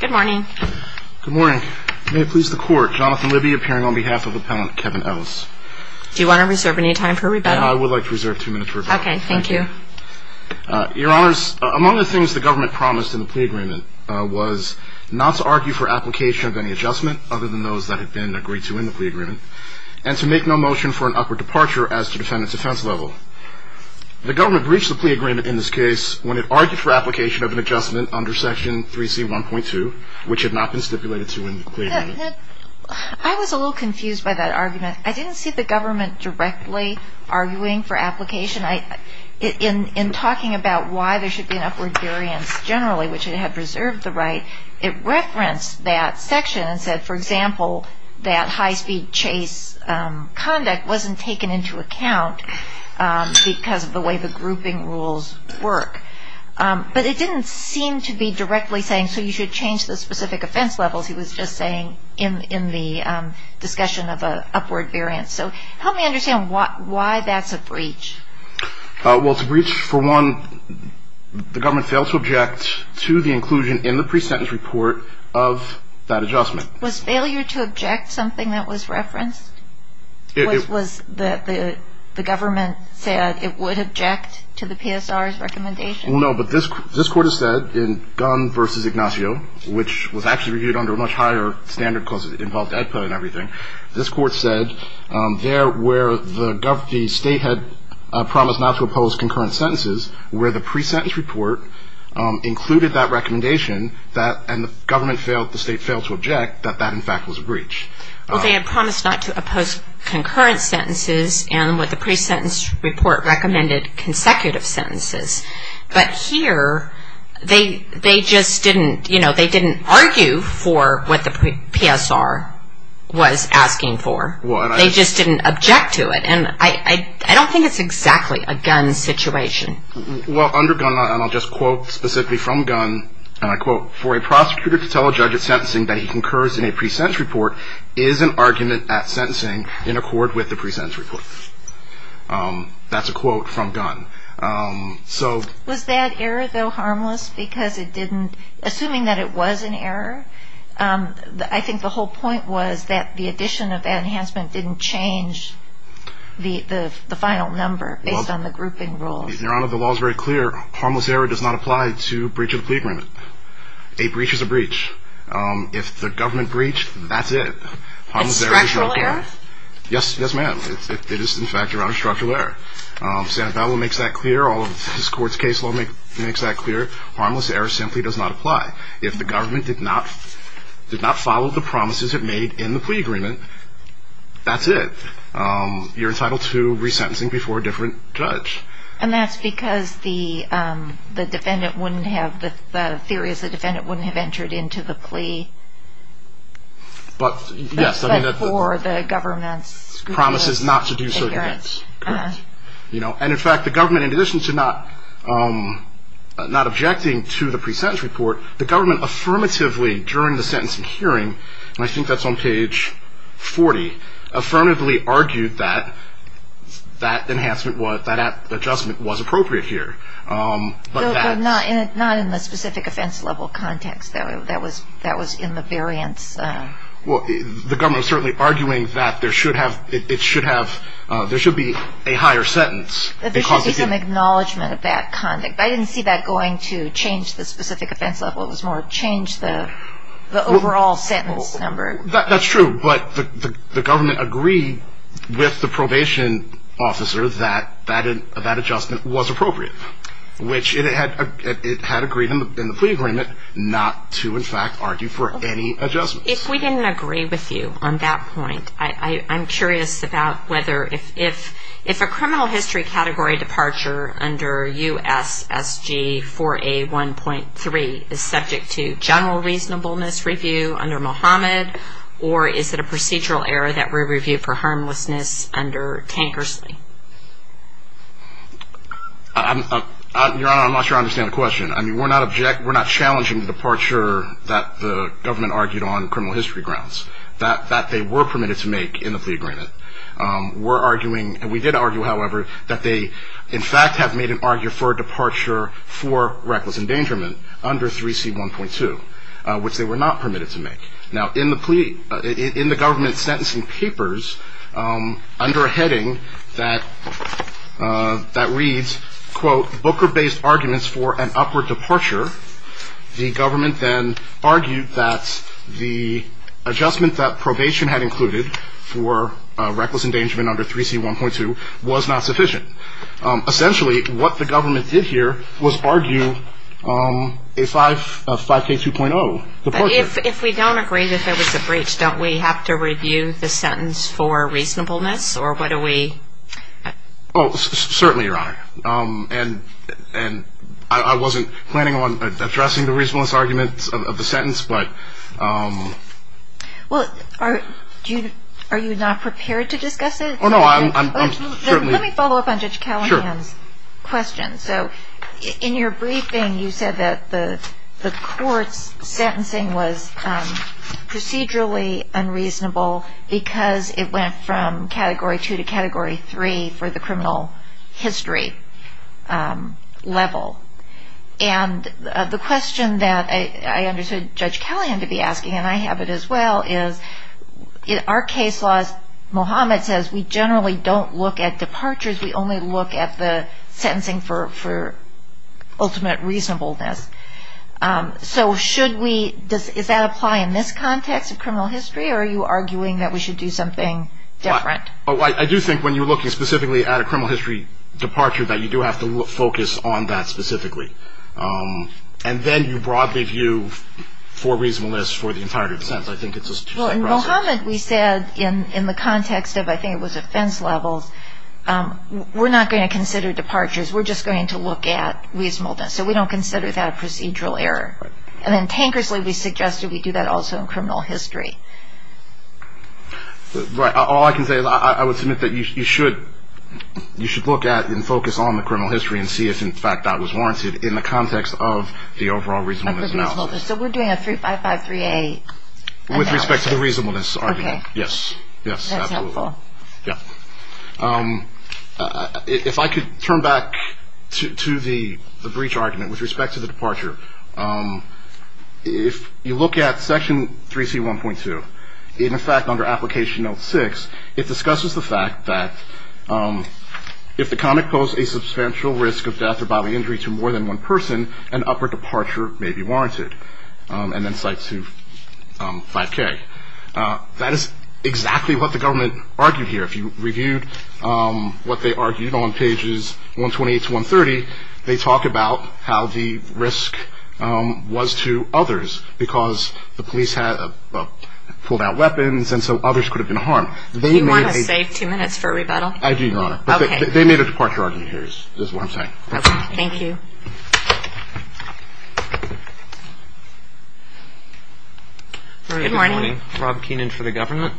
Good morning. Good morning. May it please the court, Jonathan Libby appearing on behalf of appellant Kevin Ellis. Do you want to reserve any time for rebuttal? I would like to reserve two minutes for rebuttal. Okay, thank you. Your honors, among the things the government promised in the plea agreement was not to argue for application of any adjustment other than those that had been agreed to in the plea agreement and to make no motion for an upward departure as to defend its offense level. The government breached the plea agreement in this case when it argued for application of an adjustment under section 3C 1.2, which had not been stipulated to in the plea agreement. I was a little confused by that argument. I didn't see the government directly arguing for application. In talking about why there should be an upward variance generally, which it had reserved the right, it referenced that section and said, for example, that high-speed chase conduct wasn't taken into account because of the way the grouping rules work. But it didn't seem to be directly saying, so you should change the specific offense levels. He was just saying in the discussion of an upward variance. So help me understand why that's a breach. Well, it's a breach, for one, the government failed to object to the inclusion in the pre-sentence report of that adjustment. Was failure to object something that was referenced? Was the government said it would object to the PSR's recommendation? No, but this Court has said in Gunn v. Ignacio, which was actually reviewed under a much higher standard because it involved AEDPA and everything, this Court said there where the state had promised not to oppose concurrent sentences, where the pre-sentence report included that recommendation, and the government failed, the state failed to object, that that, in fact, was a breach. Well, they had promised not to oppose concurrent sentences and what the pre-sentence report recommended, consecutive sentences. But here, they just didn't argue for what the PSR was asking for. They just didn't object to it. And I don't think it's exactly a Gunn situation. Well, under Gunn, and I'll just quote specifically from Gunn, and I quote, for a prosecutor to tell a judge at sentencing that he concurs in a pre-sentence report is an argument at sentencing in accord with the pre-sentence report. That's a quote from Gunn. Was that error, though, harmless? Because it didn't, assuming that it was an error, I think the whole point was that the addition of that enhancement didn't change the final number based on the grouping rules. Your Honor, the law is very clear. Harmless error does not apply to breach of the plea agreement. A breach is a breach. If the government breached, that's it. Harmless error does not apply. A structural error? Yes, ma'am. It is, in fact, around a structural error. Sanabella makes that clear. All of this Court's case law makes that clear. Harmless error simply does not apply. If the government did not follow the promises it made in the plea agreement, that's it. You're entitled to re-sentencing before a different judge. And that's because the defendant wouldn't have, the theory is the defendant wouldn't have entered into the plea. But, yes. But for the government's scrutiny. Promises not to do certain events. Correct. You know, and in fact the government, in addition to not objecting to the pre-sentence report, the government affirmatively, during the sentencing hearing, and I think that's on page 40, affirmatively argued that that enhancement, that adjustment was appropriate here. But not in the specific offense level context. That was in the variance. Well, the government was certainly arguing that there should have, it should have, there should be a higher sentence. There should be some acknowledgement of that conduct. I didn't see that going to change the specific offense level. It was more change the overall sentence number. That's true. But the government agreed with the probation officer that that adjustment was appropriate. Which it had agreed in the plea agreement not to, in fact, argue for any adjustments. If we didn't agree with you on that point, I'm curious about whether, if a criminal history category departure under U.S. SG 4A 1.3 is subject to general reasonableness review under Mohammed, or is it a procedural error that we review for harmlessness under Tankersley? Your Honor, I'm not sure I understand the question. I mean, we're not object, we're not challenging the departure that the government argued on criminal history grounds. That they were permitted to make in the plea agreement. We're arguing, and we did argue, however, that they, in fact, have made an argument for a departure for reckless endangerment under 3C 1.2, which they were not permitted to make. Now, in the government's sentencing papers, under a heading that reads, quote, Booker-based arguments for an upward departure, the government then argued that the adjustment that probation had included for reckless endangerment under 3C 1.2 was not sufficient. Essentially, what the government did here was argue a 5K 2.0. But if we don't agree that there was a breach, don't we have to review the sentence for reasonableness, or what do we? Oh, certainly, Your Honor. And I wasn't planning on addressing the reasonableness arguments of the sentence, but... Well, are you not prepared to discuss it? Oh, no, I'm certainly... Let me follow up on Judge Callahan's question. So, in your briefing, you said that the court's sentencing was procedurally unreasonable because it went from Category 2 to Category 3 for the criminal history level. And the question that I understood Judge Callahan to be asking, and I have it as well, is, in our case laws, Mohammed says we generally don't look at departures, we only look at the sentencing for ultimate reasonableness. So, should we... Does that apply in this context of criminal history, or are you arguing that we should do something different? I do think when you're looking specifically at a criminal history departure that you do have to focus on that specifically. And then you broadly view for reasonableness for the entirety of the sentence. I think it's a separate process. Well, in Mohammed, we said in the context of, I think it was offense levels, we're not going to consider departures. We're just going to look at reasonableness. So, we don't consider that a procedural error. And then, Tankersley, we suggested we do that also in criminal history. Right. All I can say is I would submit that you should look at and focus on the criminal history and see if, in fact, that was warranted in the context of the overall reasonableness analysis. So, we're doing a 35538 analysis? With respect to the reasonableness argument. Yes. That's helpful. Yes. If I could turn back to the breach argument with respect to the departure. If you look at Section 3C1.2, in effect under Application Note 6, it discusses the fact that if the convict posed a substantial risk of death or bodily injury to more than one person, an upper departure may be warranted. And then Cite 2.5K. That is exactly what the government argued here. If you reviewed what they argued on pages 128 to 130, they talk about how the risk was to others because the police pulled out weapons and so others could have been harmed. Do you want to save two years? That's what I'm saying. Thank you. Good morning. Rob Keenan for the government.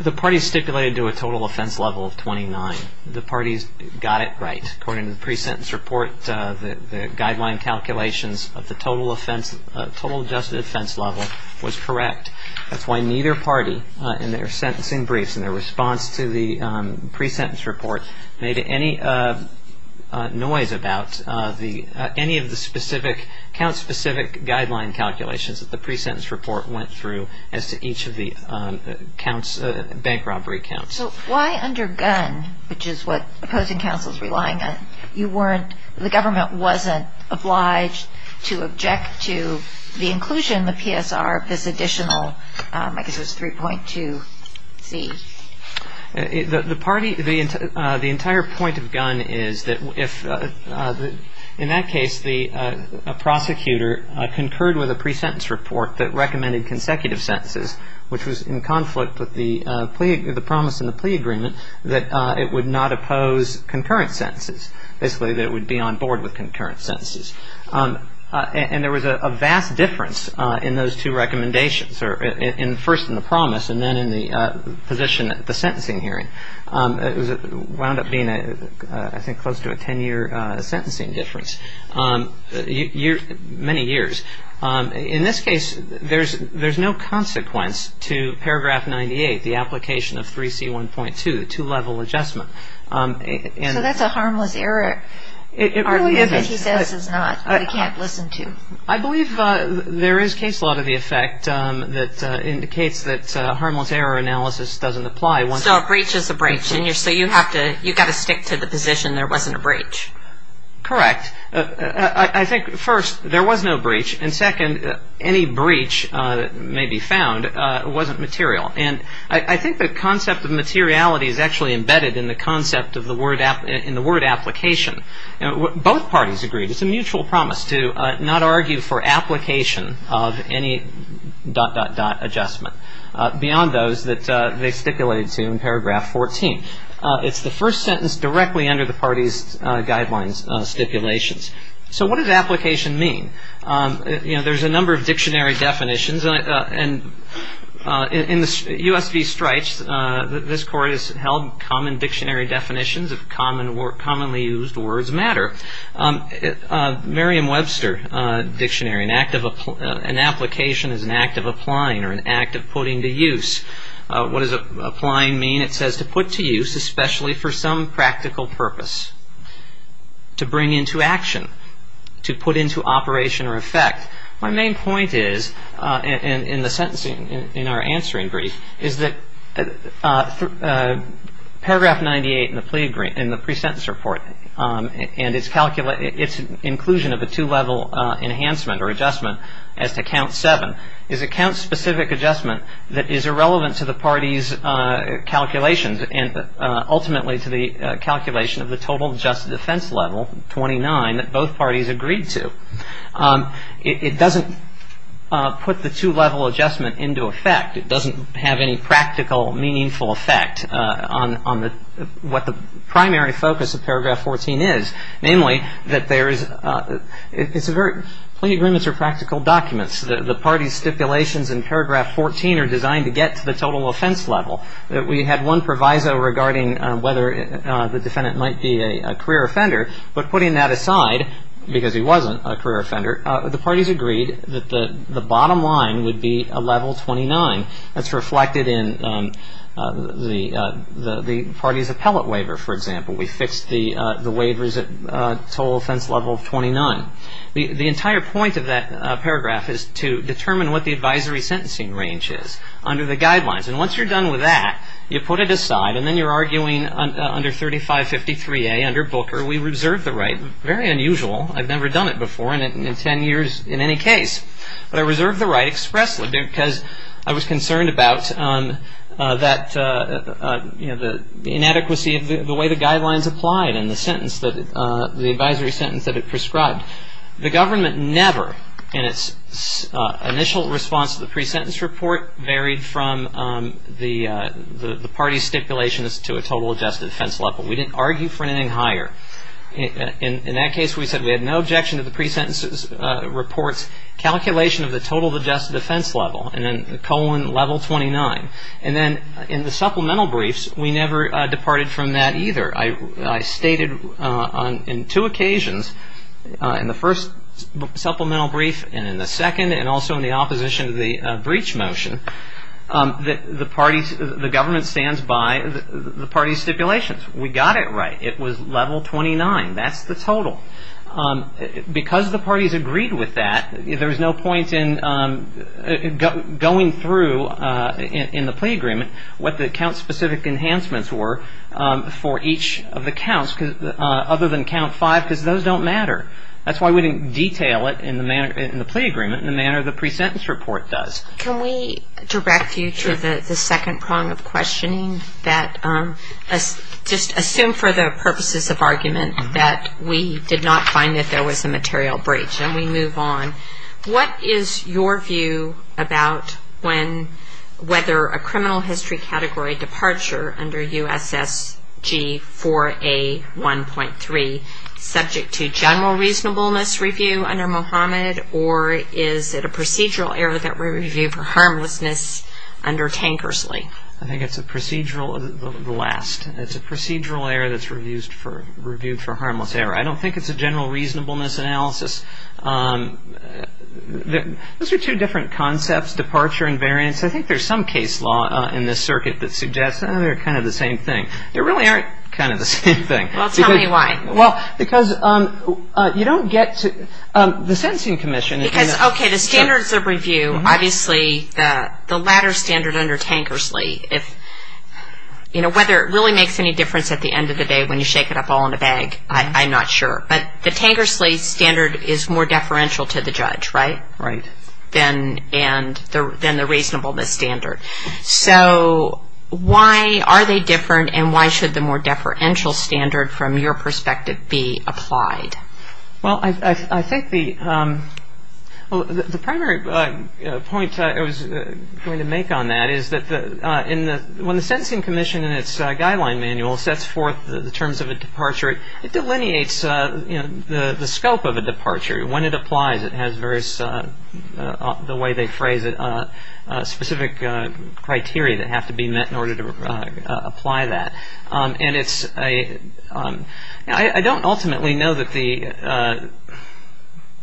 The parties stipulated to a total offense level of 29. The parties got it right according to the pre-sentence report, the guideline calculations of the total adjusted offense level was correct. That's why neither party in their sentencing briefs and their response to the pre-sentence report made any noise about any of the count-specific guideline calculations that the pre-sentence report went through as to each of the bank robbery counts. So why under Gunn, which is what opposing counsel is relying on, the government wasn't obliged to object to the inclusion in the PSR of this additional, I guess it was 3.2C. The party, the entire point of Gunn is that if, in that case, the prosecutor concurred with a pre-sentence report that recommended consecutive sentences, which was in conflict with the promise in the plea agreement, that it would not oppose concurrent sentences. Basically, that it would be on board with concurrent sentences. And there was a vast difference in those two recommendations, first in the promise and then in the position at the sentencing hearing. It wound up being, I think, close to a ten-year sentencing difference. Many years. In this case, there's no consequence to paragraph 98, the application of 3C.1.2, two-level adjustment. So that's a harmless error argument that he says is not, that we can't listen to. I believe there is case law to the effect that indicates that harmless error analysis doesn't apply once... So a breach is a breach. And so you have to, you've got to stick to the position there wasn't a breach. Correct. I think, first, there was no breach. And second, any breach that may be found wasn't material. And I think the concept of materiality is actually embedded in the concept of the word, in the word application. Both parties agreed. It's a mutual promise to not argue for application of any dot, dot, dot adjustment beyond those that they stipulated to in paragraph 14. It's the first sentence directly under the parties' guidelines stipulations. So what does application mean? You know, there's a number of dictionary definitions. And in the U.S. v. Strites, this court has held common dictionary definitions of commonly used words that matter. Merriam-Webster dictionary, an application is an act of applying or an act of putting to use. What does applying mean? It says to put to use, especially for some practical purpose. To bring into action. To put into operation or effect. My main point is, in the sentencing, in our answering brief, is that paragraph 98 in the pre-sentence report, and its inclusion of a two-level enhancement or adjustment as to count seven, is a count-specific adjustment that is irrelevant to the parties' calculations and ultimately to the calculation of the total adjusted defense level, 29, that both parties agreed to. It doesn't put the two-level adjustment into effect. It doesn't have any practical, meaningful effect on what the primary focus of paragraph 14 is. Namely, that there is, it's a very, plea agreements are practical documents. The parties' stipulations in paragraph 14 are designed to get to the total offense level. We had one proviso regarding whether the defendant might be a career offender. But putting that aside, because he wasn't a career offender, the parties agreed that the bottom line would be a level 29. That's reflected in the party's appellate waiver, for example. We fixed the waivers at total offense level 29. The entire point of that paragraph is to determine what the advisory sentencing range is under the guidelines. And once you're done with that, you put it aside, and then you're arguing under 3553A, under Booker, we reserve the right. Very unusual. I've never done it before, and in 10 years, in any case. But I reserve the right expressly because I was concerned about that inadequacy of the way the guidelines applied and the sentence that, the advisory sentence that it prescribed. The government never, in its initial response to the pre-sentence report, varied from the party's stipulations to a total adjusted offense level. We didn't argue for anything higher. In that case, we said we had no objection to the pre-sentence report's calculation of the total adjusted offense level, and then the colon level 29. And then in the supplemental briefs, we never departed from that either. I stated in two occasions, in the first supplemental brief and in the second, and also in the opposition to the breach motion, that the government stands by the party's stipulations. We got it right. It was level 29. That's the total. Because the parties agreed with that, there was no point in going through in the plea agreement what the count-specific enhancements were for each of the counts, other than count five, because those don't matter. That's why we didn't detail it in the plea agreement in the manner the pre-sentence report does. Can we direct you to the second prong of questioning? Just assume for the purposes of argument that we did not find that there was a material breach, and we move on. What is your view about whether a criminal history category departure under USSG 4A 1.3, subject to general review for harmlessness under Tankersley? I think it's a procedural error that's reviewed for harmless error. I don't think it's a general reasonableness analysis. Those are two different concepts, departure and variance. I think there's some case law in this circuit that suggests they're kind of the same thing. They really aren't kind of the same thing. Well, tell me why. Well, because you don't get to the Sentencing Commission. Because, okay, the standards of review, obviously, the latter standard under Tankersley, whether it really makes any difference at the end of the day when you shake it up all in a bag, I'm not sure. But the Tankersley standard is more deferential to the judge, right, than the reasonableness standard. So why are they different, and why should the more deferential standard, from your perspective, be applied? Well, I think the primary point I was going to make on that is that when the Sentencing Commission, in its guideline manual, sets forth the terms of a departure, it delineates the scope of a departure. When it applies, it has various, the way they phrase it, specific criteria that have to be met in order to apply that. And it's a, I don't ultimately know that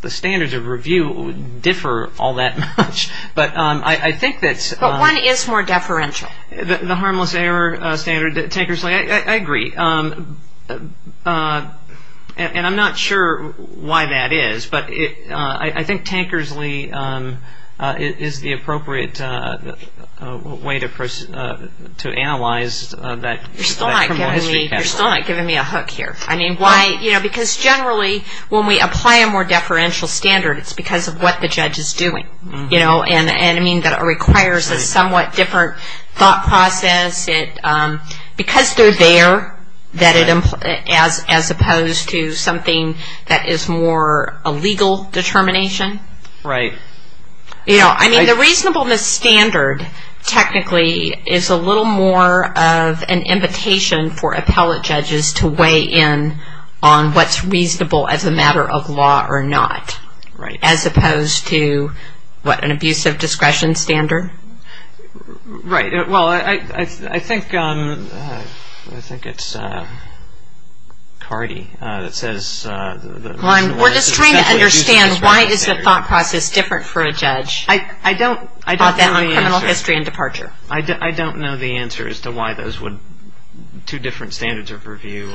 the standards of review differ all that much, but I think that's... But one is more deferential. The harmless error standard at Tankersley, I agree. And I'm not sure why that is, but I think Tankersley is the appropriate way to analyze that criminal history category. You're still not giving me a hook here. I mean, why, you know, because generally when we apply a more deferential standard, it's because of what the judge is doing, you know, and I mean that it requires a somewhat different thought process. Because they're there, as opposed to something that is more a legal determination. Right. You know, I mean, the reasonableness standard, technically, is a little more of an invitation for appellate judges to weigh in on what's reasonable as a matter of law or not. Right. As opposed to, what, an abusive discretion standard. Right. Well, I think it's Cardi that says... We're just trying to understand why is the thought process different for a judge? I don't know the answer. I thought that on criminal history and departure. I don't know the answer as to why those would, two different standards of review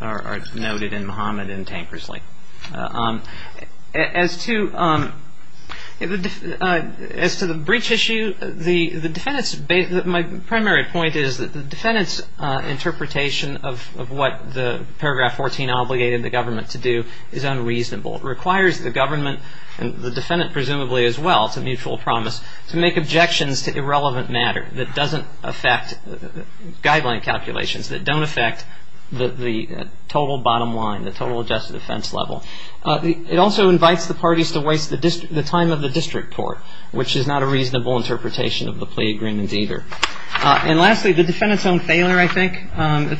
are noted in Muhammad and Tankersley. As to the breach issue, the defendant's, my primary point is that the defendant's interpretation of what the paragraph 14 obligated the government to do is unreasonable. It requires the government and the defendant, presumably as well, it's a mutual promise, to make objections to irrelevant matter that doesn't affect guideline calculations, that don't affect the total bottom line, the bottom line level. It also invites the parties to waste the time of the district court, which is not a reasonable interpretation of the plea agreement either. And lastly, the defendant's own failure, I think,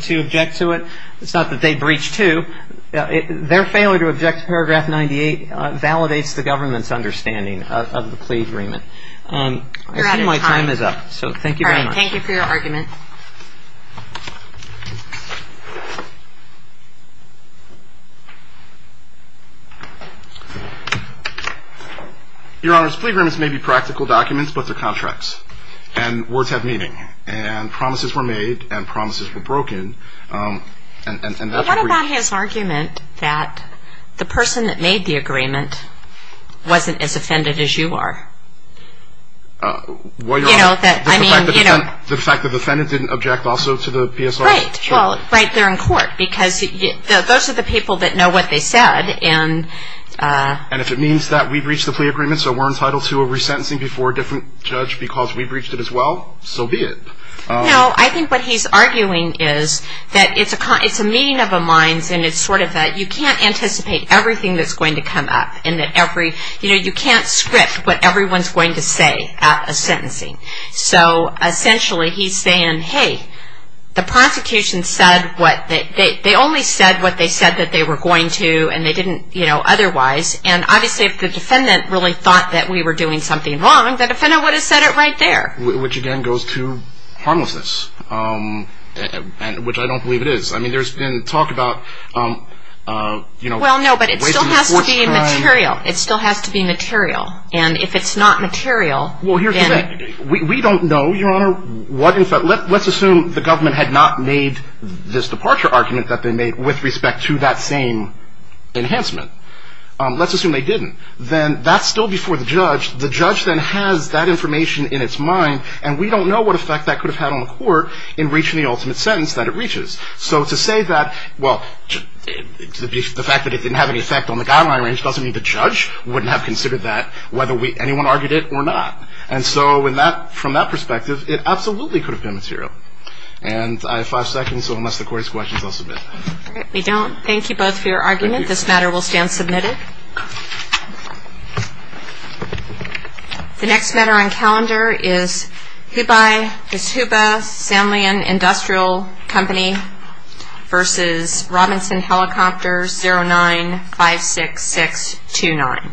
to object to it. It's not that they breached two. Their failure to object to paragraph 98 validates the government's understanding of the plea agreement. You're out of time. I think my time is up, so thank you very much. All right. Thank you for your argument. Your Honor, plea agreements may be practical documents, but they're contracts, and words have meaning, and promises were made, and promises were broken, and that's a breach. But what about his argument that the person that made the agreement wasn't as offended as you are? Well, Your Honor, the fact that the defendant didn't object also to the PSR? Right. Well, right there in court, because those are the people that know what they said. And if it means that we breached the plea agreement, so we're entitled to a resentencing before a different judge because we breached it as well, so be it. No, I think what he's arguing is that it's a meeting of the minds, and it's sort of that you can't anticipate everything that's going to come up, and that every, you know, you can't script what everyone's going to say at a sentencing. So essentially, he's saying, hey, the prosecution said what they, they only said what they said that they were going to, and they didn't, you know, otherwise, and obviously if the defendant really thought that we were doing something wrong, the defendant would have said it right there. Which again, goes to harmlessness, which I don't believe it is. I mean, there's been talk about, you know, Well, no, but it still has to be material. It still has to be material. And if it's not material, then We don't know, Your Honor, what in fact, let's assume the government had not made this departure argument that they made with respect to that same enhancement. Let's assume they didn't. Then that's still before the judge. The judge then has that information in its mind, and we don't know what effect that could have had on the court in reaching the ultimate sentence that it reaches. So to say that, well, the fact that it didn't have any effect on the guideline range doesn't mean the judge wouldn't have considered that, whether anyone argued it or not. And so from that perspective, it absolutely could have been material. And I have five seconds, so unless the court has questions, I'll submit. We don't. Thank you both for your argument. This matter will stand submitted. The next matter on calendar is Hubai, Samblian Industrial Company v. Robinson Helicopter 0956629.